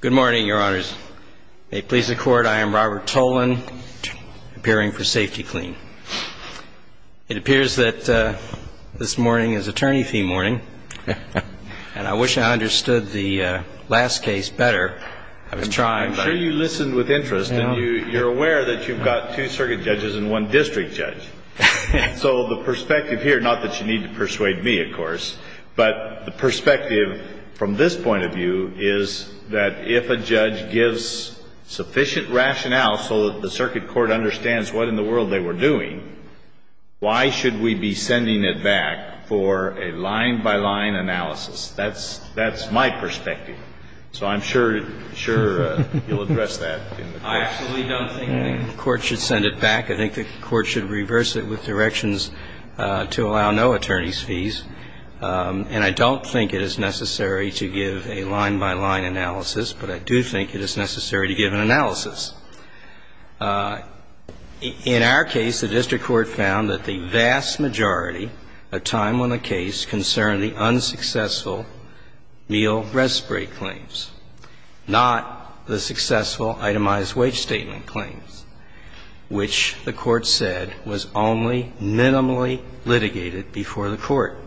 Good morning, Your Honors. May it please the Court, I am Robert Tolan, appearing for Safety-Kleen. It appears that this morning is attorney fee morning, and I wish I understood the last case better. I was trying, but... I'm sure you listened with interest, and you're aware that you've got two circuit judges and one district judge. And so the perspective here, not that you need to persuade me, of course, but the perspective from this point of view is that if a judge gives sufficient rationale so that the circuit court understands what in the world they were doing, why should we be sending it back for a line-by-line analysis? That's my perspective. So I'm sure you'll address that in the court. I actually don't think the Court should send it back. I think the Court should reverse it with directions to allow no attorneys' fees. And I don't think it is necessary to give a line-by-line analysis, but I do think it is necessary to give an analysis. In our case, the district court found that the vast majority of time on the case concerned the unsuccessful meal rest break claims, not the successful itemized wage statement claims, which the Court said was only minimally litigated before the Court,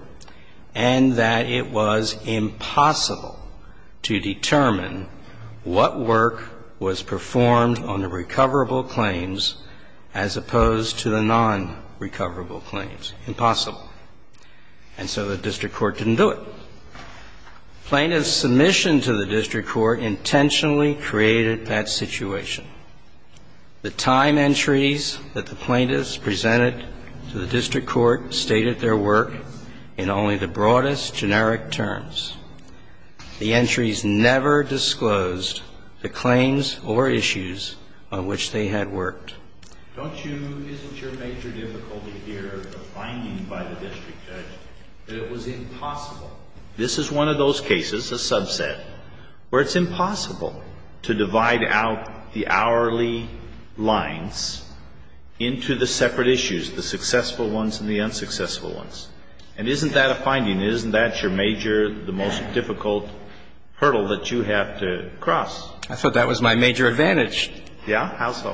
and that it was impossible to determine what work was performed on the recoverable claims as opposed to the non-recoverable claims. Impossible. And so the district court didn't do it. Plaintiff's submission to the district court intentionally created that situation. The time entries that the plaintiffs presented to the district court stated their work in only the broadest generic terms. The entries never disclosed the claims or issues on which they had worked. Don't you – isn't your major difficulty here a finding by the district judge that it was impossible? This is one of those cases, a subset, where it's impossible to divide out the hourly lines into the separate issues, the successful ones and the unsuccessful ones. And isn't that a finding? Isn't that your major, the most difficult hurdle that you have to cross? I thought that was my major advantage. Yeah? Because it's so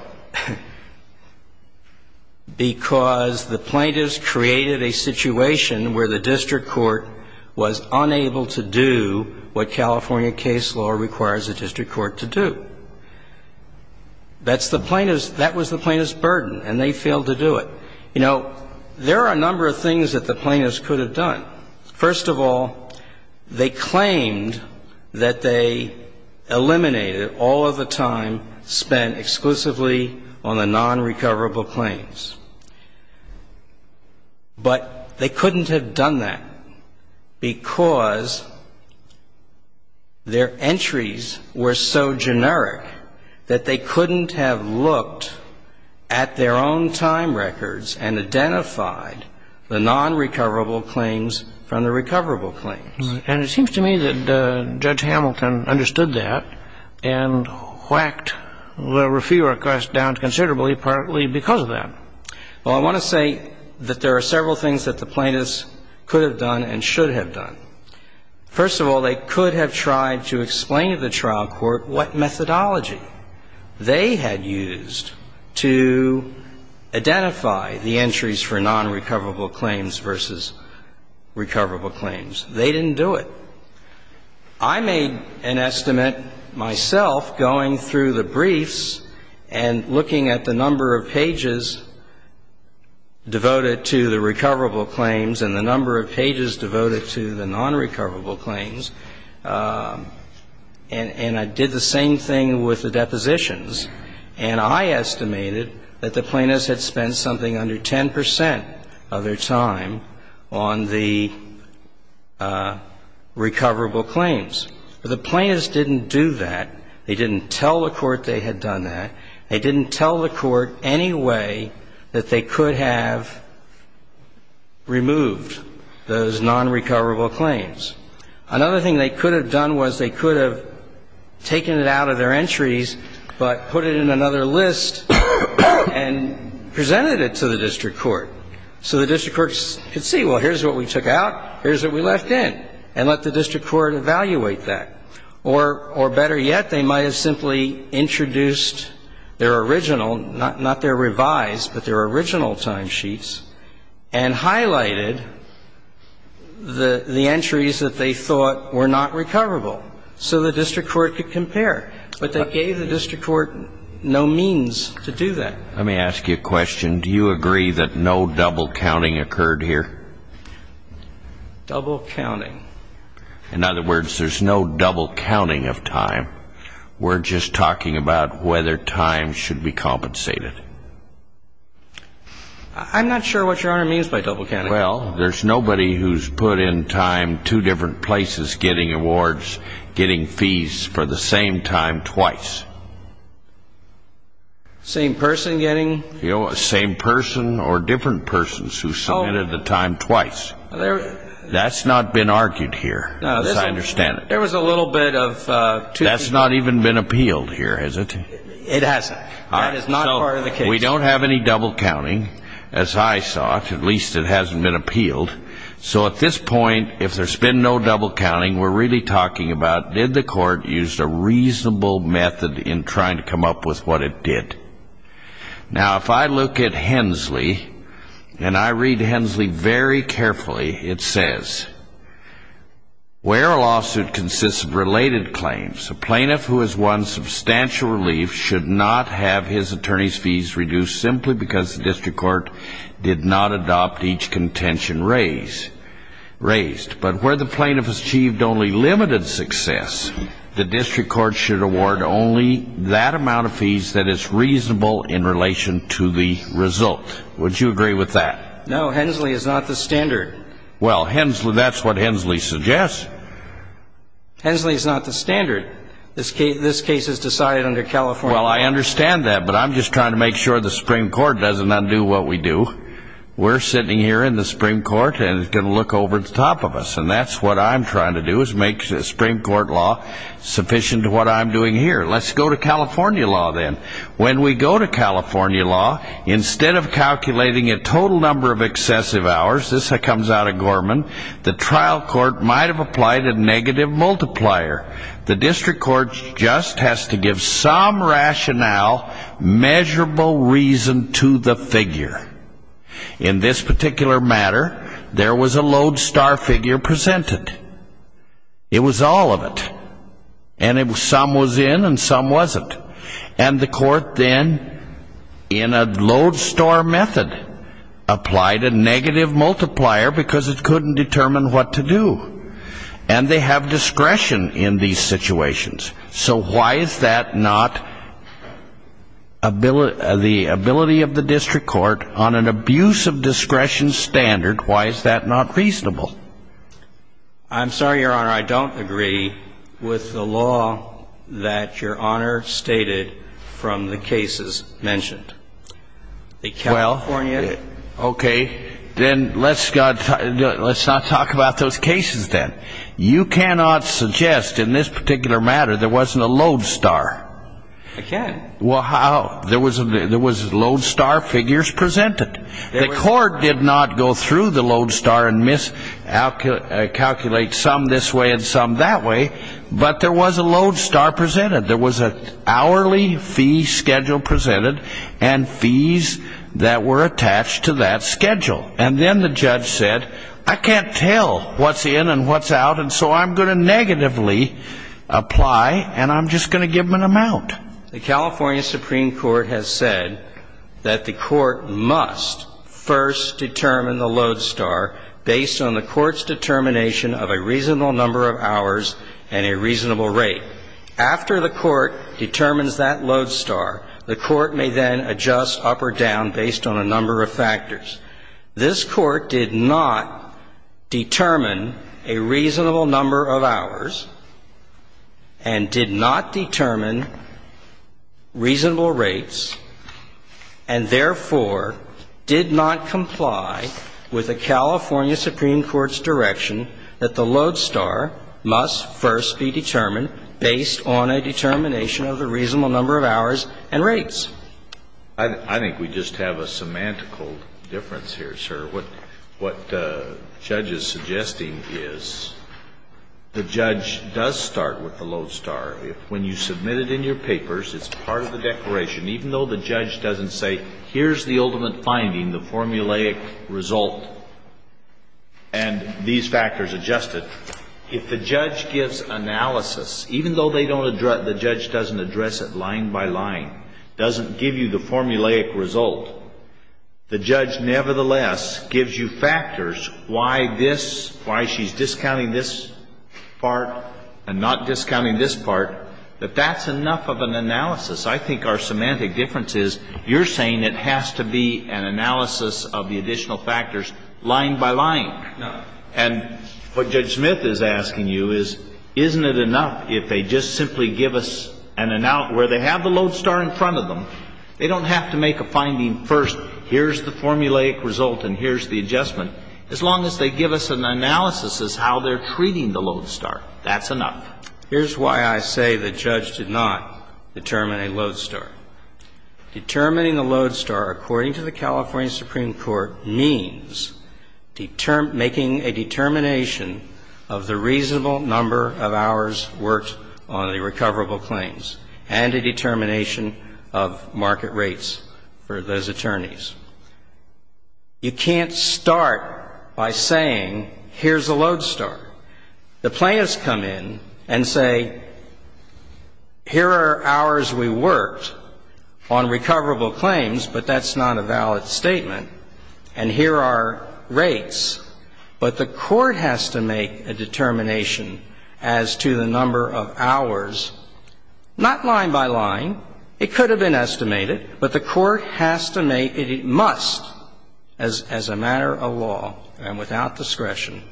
difficult. Why is it so difficult? Because the plaintiffs created a situation where the district court was unable to do what California case law requires a district court to do. That's the plaintiffs' – that was the plaintiffs' burden, and they failed to do it. You know, there are a number of things that the plaintiffs could have done. First of all, they claimed that they eliminated all of the time spent exclusively on the nonrecoverable claims. But they couldn't have done that because their entries were so generic that they couldn't have looked at their own time records and identified the nonrecoverable claims from the recoverable claims. And it seems to me that Judge Hamilton understood that and whacked the refute request down considerably, partly because of that. Well, I want to say that there are several things that the plaintiffs could have done and should have done. First of all, they could have tried to explain to the trial court what methodology they had used to identify the entries for nonrecoverable claims versus nonrecoverable claims. They didn't do it. I made an estimate myself going through the briefs and looking at the number of pages devoted to the recoverable claims and the number of pages devoted to the nonrecoverable claims, and I did the same thing with the depositions. And I estimated that the plaintiffs had spent something under 10 percent of their time on the recoverable claims. But the plaintiffs didn't do that. They didn't tell the court they had done that. They didn't tell the court any way that they could have removed those nonrecoverable claims. Another thing they could have done was they could have taken it out of their entries but put it in another list and presented it to the district court. So the district court could see, well, here's what we took out, here's what we left in, and let the district court evaluate that. Or better yet, they might have simply introduced their original, not their revised, but their original timesheets and highlighted the entries that they thought were not recoverable so the district court could compare. But they gave the district court no means to do that. Let me ask you a question. Do you agree that no double counting occurred here? Double counting. In other words, there's no double counting of time. We're just talking about whether time should be compensated. I'm not sure what Your Honor means by double counting. Well, there's nobody who's put in time two different places getting awards, getting fees for the same time twice. Same person getting? Same person or different persons who submitted the time twice. That's not been argued here, as I understand it. There was a little bit of two people. That's not even been appealed here, is it? It hasn't. That is not part of the case. We don't have any double counting, as I saw it. At least it hasn't been appealed. So at this point, if there's been no double counting, we're really talking about did the court use a reasonable method in trying to come up with what it did? Now, if I look at Hensley, and I read Hensley very carefully, it says, where a lawsuit consists of related claims, a plaintiff who has won substantial relief should not have his attorney's fees reduced simply because the district court did not adopt each contention raised. But where the plaintiff has achieved only limited success, the district court should award only that amount of fees that is reasonable in relation to the result. Would you agree with that? No, Hensley is not the standard. Well, that's what Hensley suggests. Hensley is not the standard. This case is decided under California law. Well, I understand that, but I'm just trying to make sure the Supreme Court doesn't undo what we do. We're sitting here in the Supreme Court, and it's going to look over the top of us, and that's what I'm trying to do is make the Supreme Court law sufficient to what I'm doing here. Let's go to California law then. When we go to California law, instead of calculating a total number of excessive hours, this comes out of Gorman, the trial court might have applied a negative multiplier. The district court just has to give some rationale, measurable reason to the figure. In this particular matter, there was a lodestar figure presented. It was all of it, and some was in and some wasn't. And the court then, in a lodestar method, applied a negative multiplier because it couldn't determine what to do. And they have discretion in these situations. So why is that not the ability of the district court on an abuse of discretion standard, why is that not reasonable? I'm sorry, Your Honor, I don't agree with the law that Your Honor stated from the cases mentioned. Well, okay, then let's not talk about those cases then. You cannot suggest in this particular matter there wasn't a lodestar. I can't. Well, how? There was lodestar figures presented. The court did not go through the lodestar and miscalculate some this way and some that way, but there was a lodestar presented. There was an hourly fee schedule presented and fees that were attached to that schedule. And then the judge said, I can't tell what's in and what's out, and so I'm going to negatively apply and I'm just going to give them an amount. The California Supreme Court has said that the court must first determine the lodestar based on the court's determination of a reasonable number of hours and a reasonable rate. After the court determines that lodestar, the court may then adjust up or down based on a number of factors. This court did not determine a reasonable number of hours and did not determine reasonable rates and, therefore, did not comply with the California Supreme Court's direction that the lodestar must first be determined based on a determination of a reasonable number of hours and rates. I think we just have a semantical difference here, sir. What the judge is suggesting is the judge does start with the lodestar. When you submit it in your papers, it's part of the declaration. Even though the judge doesn't say, here's the ultimate finding, the formulaic result, and these factors adjusted, if the judge gives analysis, even though the judge doesn't address it line by line, doesn't give you the formulaic result, the judge nevertheless gives you factors why this, why she's discounting this part and not discounting this part, that that's enough of an analysis. I think our semantic difference is you're saying it has to be an analysis of the additional factors line by line. No. And what Judge Smith is asking you is, isn't it enough if they just simply give us an analysis where they have the lodestar in front of them? They don't have to make a finding first, here's the formulaic result and here's the adjustment. As long as they give us an analysis as how they're treating the lodestar, that's enough. Now, here's why I say the judge did not determine a lodestar. Determining a lodestar, according to the California Supreme Court, means making a determination of the reasonable number of hours worked on the recoverable claims and a determination of market rates for those attorneys. You can't start by saying, here's a lodestar. The plaintiffs come in and say, here are hours we worked on recoverable claims, but that's not a valid statement, and here are rates. But the court has to make a determination as to the number of hours, not line by line. It could have been estimated, but the court has to make it. It must, as a matter of law and without discretion,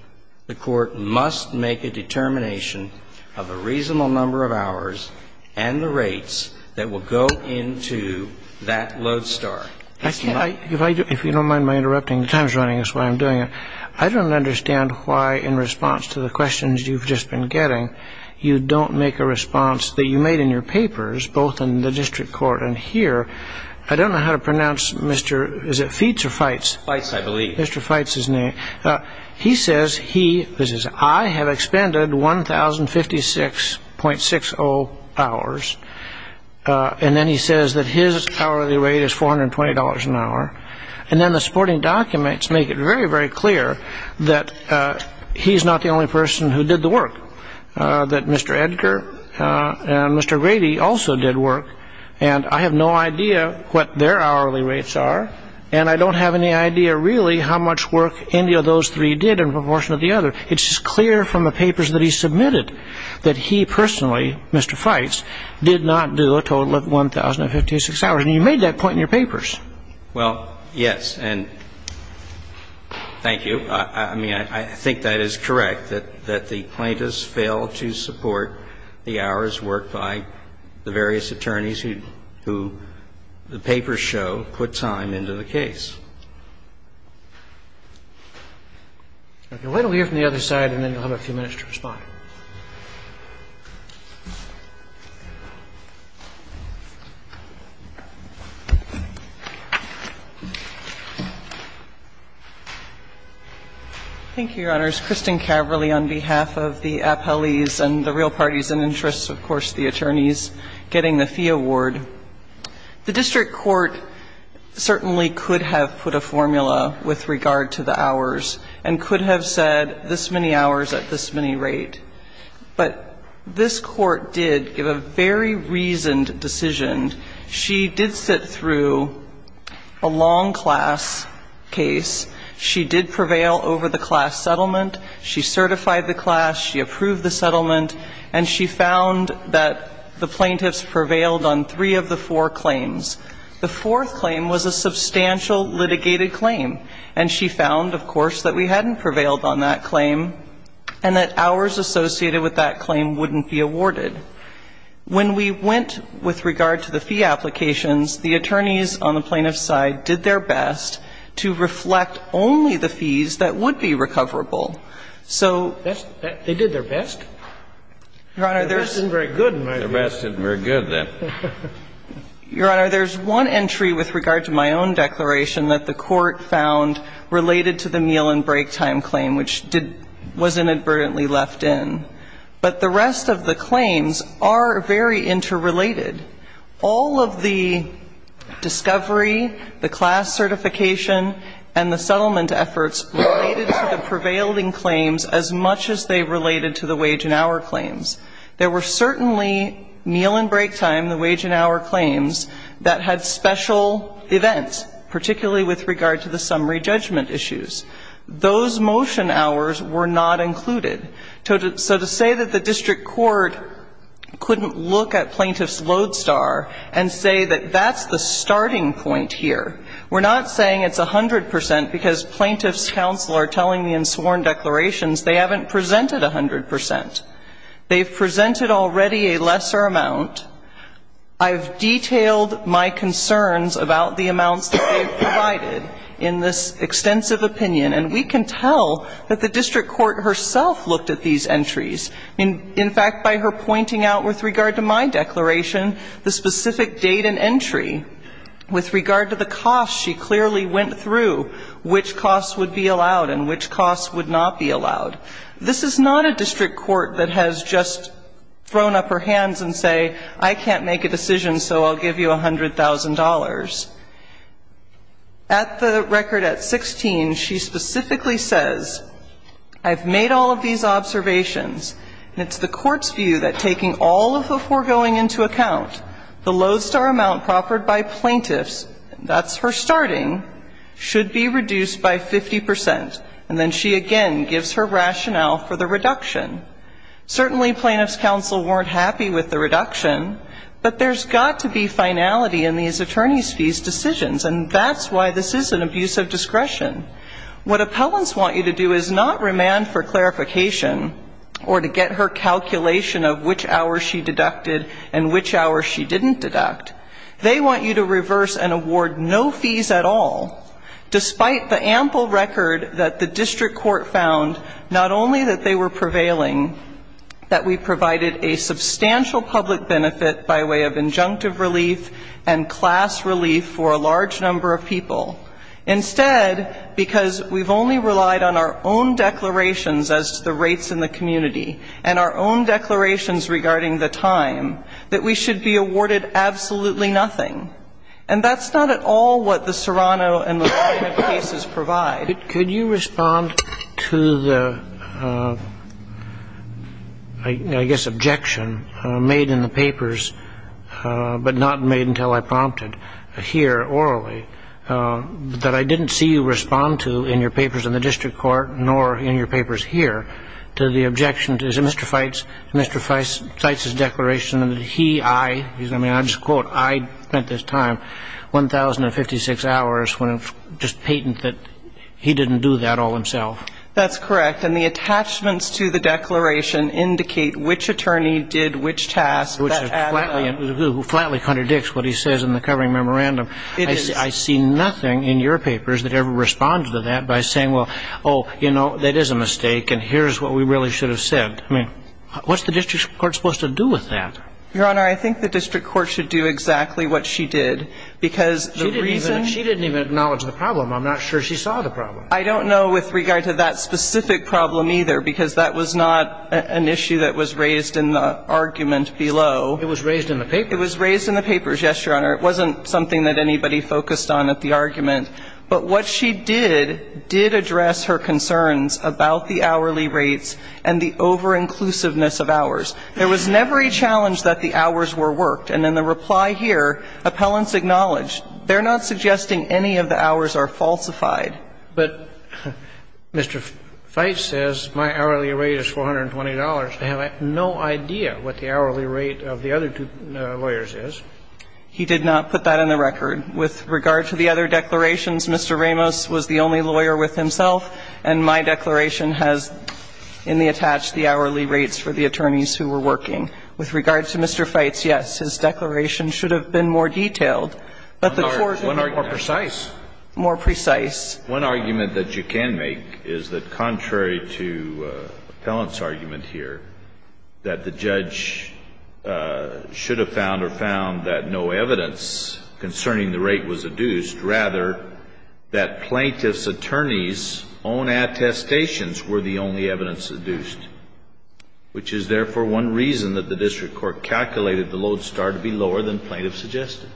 the court must make a determination of the reasonable number of hours and the rates that will go into that lodestar. If you don't mind my interrupting, the time's running, that's why I'm doing it. I don't understand why, in response to the questions you've just been getting, you don't make a response that you made in your papers, both in the district court and here. I don't know how to pronounce Mr. Feitz's name. He says he, this is I, have expended 1,056.60 hours. And then he says that his hourly rate is $420 an hour. And then the supporting documents make it very, very clear that he's not the only person who did the work, that Mr. Edgar and Mr. Grady also did work. And I have no idea what their hourly rates are, and I don't have any idea really how much work any of those three did in proportion to the other. It's just clear from the papers that he submitted that he personally, Mr. Feitz, did not do a total of 1,056 hours. And you made that point in your papers. Well, yes. And thank you. I mean, I think that is correct, that the plaintiffs failed to support the hours worked by the various attorneys who the papers show put time into the case. Okay. We'll wait a little here from the other side, and then you'll have a few minutes to respond. Thank you, Your Honors. Thank you, Justice Kennedy. I'm going to ask Kristin Caverly on behalf of the appellees and the real parties and interests, of course, the attorneys, getting the fee award. The district court certainly could have put a formula with regard to the hours and could have said this many hours at this many rate. But this court did give a very reasoned decision. She did sit through a long class case. She did prevail over the class settlement. She certified the class. She approved the settlement. And she found that the plaintiffs prevailed on three of the four claims. The fourth claim was a substantial litigated claim. And she found, of course, that we hadn't prevailed on that claim and that hours associated with that claim wouldn't be awarded. When we went with regard to the fee applications, the attorneys on the plaintiff's side did their best to reflect only the fees that would be recoverable. So they did their best. Your Honor, there's one entry with regard to my own declaration that the court found related to the meal and break time claim, which was inadvertently left in. But the rest of the claims are very interrelated. All of the discovery, the class certification, and the settlement efforts related to the prevailing claims as much as they related to the wage and hour claims. There were certainly meal and break time, the wage and hour claims, that had special events, particularly with regard to the summary judgment issues. Those motion hours were not included. So to say that the district court couldn't look at Plaintiff's lodestar and say that that's the starting point here, we're not saying it's 100 percent because Plaintiff's counsel are telling me in sworn declarations they haven't presented 100 percent. They've presented already a lesser amount. I've detailed my concerns about the amounts that they've provided in this extensive opinion, and we can tell that the district court herself looked at these entries. In fact, by her pointing out with regard to my declaration the specific date and entry, with regard to the costs, she clearly went through which costs would be allowed and which costs would not be allowed. This is not a district court that has just thrown up her hands and say, I can't make a decision, so I'll give you $100,000. At the record at 16, she specifically says, I've made all of these observations, and it's the court's view that taking all of the foregoing into account, the lodestar amount proffered by Plaintiff's, that's her starting, should be reduced by 50 percent, and then she again gives her rationale for the reduction. Certainly, Plaintiff's counsel weren't happy with the reduction, but there's got to be finality in these attorney's fees decisions, and that's why this is an abuse of discretion. What appellants want you to do is not remand for clarification or to get her calculation of which hours she deducted and which hours she didn't deduct. They want you to reverse and award no fees at all, despite the ample record that the district court found, not only that they were prevailing, that we provided a substantial public benefit by way of injunctive relief and class relief for a large number of people. Instead, because we've only relied on our own declarations as to the rates in the community and our own declarations regarding the time, that we should be awarded absolutely nothing. And that's not at all what the Serrano and the Plaintiff cases provide. Could you respond to the, I guess, objection made in the papers, but not made until I prompted here orally, that I didn't see you respond to in your papers in the district court, nor in your papers here, to the objection to Mr. Feitz's declaration that he, I, I mean, I'll just quote, I spent this time 1,056 hours when just patent that he didn't do that all himself. That's correct. And the attachments to the declaration indicate which attorney did which task. Which flatly contradicts what he says in the covering memorandum. It is. I see nothing in your papers that ever responds to that by saying, well, oh, you know, that is a mistake, and here's what we really should have said. I mean, what's the district court supposed to do with that? Your Honor, I think the district court should do exactly what she did, because the reason she didn't even acknowledge the problem, I'm not sure she saw the problem. I don't know with regard to that specific problem either, because that was not an issue that was raised in the argument below. It was raised in the papers. It was raised in the papers, yes, Your Honor. It wasn't something that anybody focused on at the argument. But what she did, did address her concerns about the hourly rates and the over-inclusiveness of hours. There was never a challenge that the hours were worked. And in the reply here, appellants acknowledged, they're not suggesting any of the hours are falsified. But Mr. Feitz says my hourly rate is $420. I have no idea what the hourly rate of the other two lawyers is. He did not put that in the record. With regard to the other declarations, Mr. Ramos was the only lawyer with himself, and my declaration has in the attached the hourly rates for the attorneys who were working. With regard to Mr. Feitz, yes, his declaration should have been more detailed. But the court would have been more precise. One argument that you can make is that contrary to appellant's argument here, that the judge should have found or found that no evidence concerning the rate was adduced, rather that plaintiff's attorneys' own attestations were the only evidence adduced, which is therefore one reason that the district court calculated the load star to be lower than plaintiff suggested.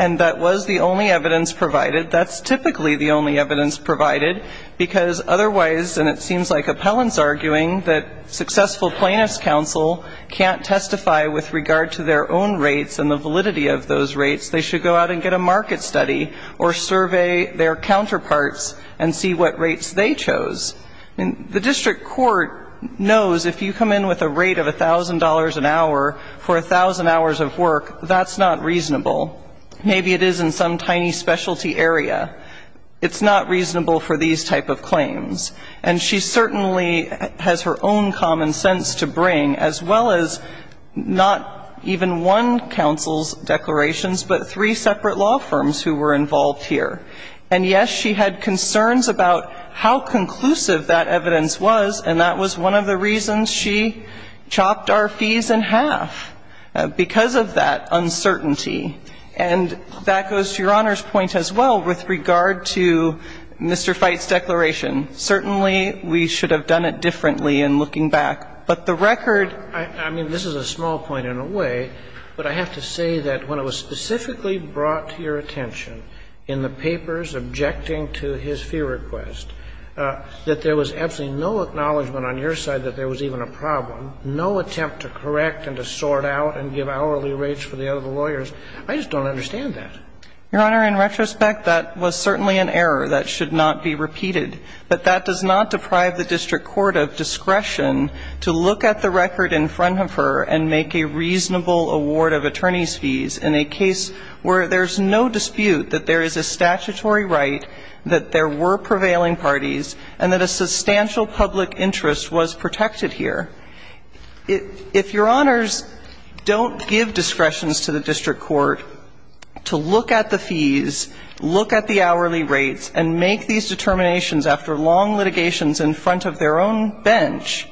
And that was the only evidence provided. That's typically the only evidence provided, because otherwise, and it seems like appellant's arguing that successful plaintiff's counsel can't testify with regard to their own rates and the validity of those rates. They should go out and get a market study or survey their counterparts and see what rates they chose. The district court knows if you come in with a rate of $1,000 an hour for 1,000 hours of work, that's not reasonable. Maybe it is in some tiny specialty area. It's not reasonable for these type of claims. And she certainly has her own common sense to bring, as well as not even one counsel's declarations, but three separate law firms who were involved here. And, yes, she had concerns about how conclusive that evidence was, and that was one of the reasons she chopped our fees in half, because of that uncertainty. And that goes to Your Honor's point as well with regard to Mr. Fite's declaration. Certainly, we should have done it differently in looking back. But the record – I mean, this is a small point in a way, but I have to say that when it was specifically brought to your attention in the papers objecting to his fee request, that there was absolutely no acknowledgment on your side that there was even a problem, no attempt to correct and to sort out and give hourly rates for the other lawyers. I just don't understand that. Your Honor, in retrospect, that was certainly an error. That should not be repeated. But that does not deprive the district court of discretion to look at the record in front of her and make a reasonable award of attorneys' fees in a case where there's no dispute that there is a statutory right, that there were prevailing parties, and that a substantial public interest was protected here. If Your Honors don't give discretions to the district court to look at the fees, look at the hourly rates, and make these determinations after long litigations in front of their own bench,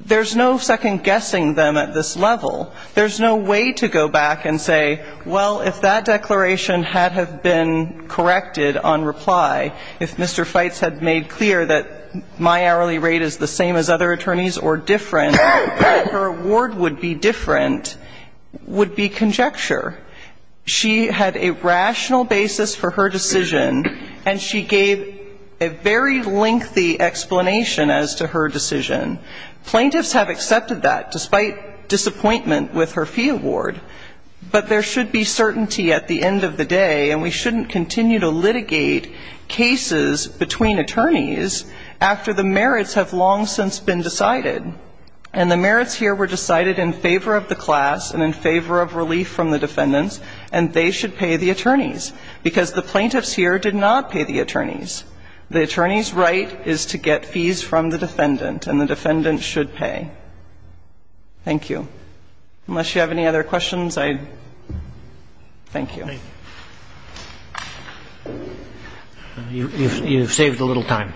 there's no second-guessing them at this level. There's no way to go back and say, well, if that declaration had have been corrected on reply, if Mr. Fites had made clear that my hourly rate is the same as other attorneys or different, her award would be different, would be conjecture. She had a rational basis for her decision, and she gave a very lengthy explanation as to her decision. Plaintiffs have accepted that, despite disappointment with her fee award. But there should be certainty at the end of the day, and we shouldn't continue to litigate cases between attorneys after the merits have long since been decided. And the merits here were decided in favor of the class and in favor of relief from the defendants, and they should pay the attorneys, because the plaintiffs here did not pay the attorneys. The attorney's right is to get fees from the defendant, and the defendant should pay. Thank you. Unless you have any other questions, I thank you. You've saved a little time.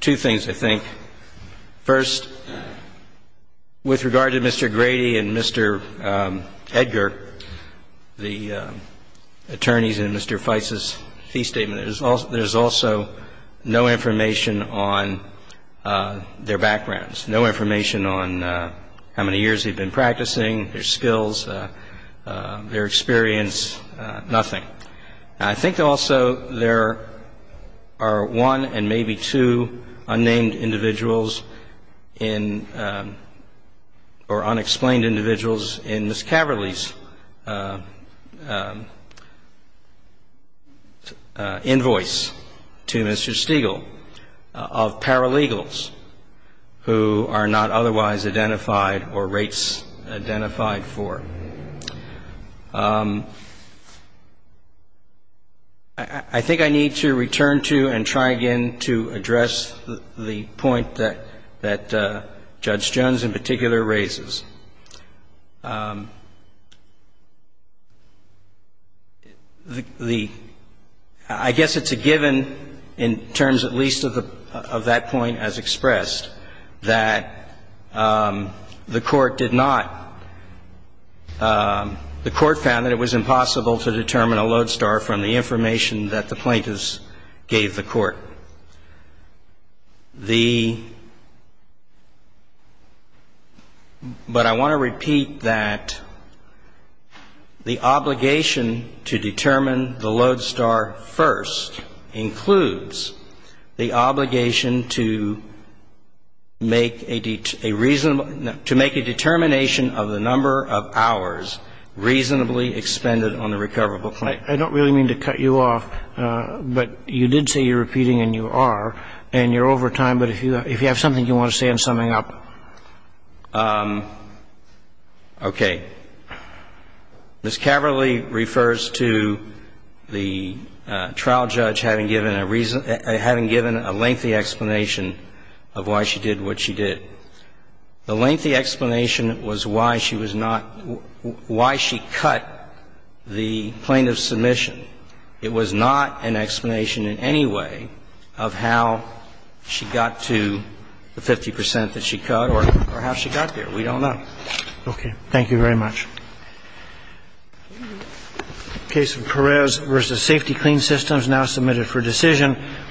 Two things, I think. First, with regard to Mr. Grady and Mr. Edgar, the attorneys in Mr. Fites's fee statement, there's also no information on their backgrounds, no information on how many years they've been practicing, their skills, their experience, nothing. I think also there are one and maybe two unnamed individuals in or unexplained individuals in Ms. Caverly's invoice to Mr. Stegall of paralegals who are not otherwise identified or rates identified for. I think I need to return to and try again to address the point that Judge Jones in particular raises. I guess it's a given in terms at least of that point as expressed that the Court did not determine a lodestar. The Court found that it was impossible to determine a lodestar from the information that the plaintiffs gave the Court. But I want to repeat that the obligation to determine the lodestar first includes the obligation to make a determination of the number of hours reasonably expended on the recoverable claim. I don't really mean to cut you off, but you did say you're repeating, and you are, and you're over time. But if you have something you want to say, I'm summing up. Okay. Ms. Caverly refers to the trial judge having given a lengthy explanation of why she did what she did. The lengthy explanation was why she was not why she cut the plaintiff's submission. It was not an explanation in any way of how she got to the 50 percent that she cut or how she got there. We don't know. Okay. Thank you very much. Case of Perez v. Safety Clean Systems now submitted for decision.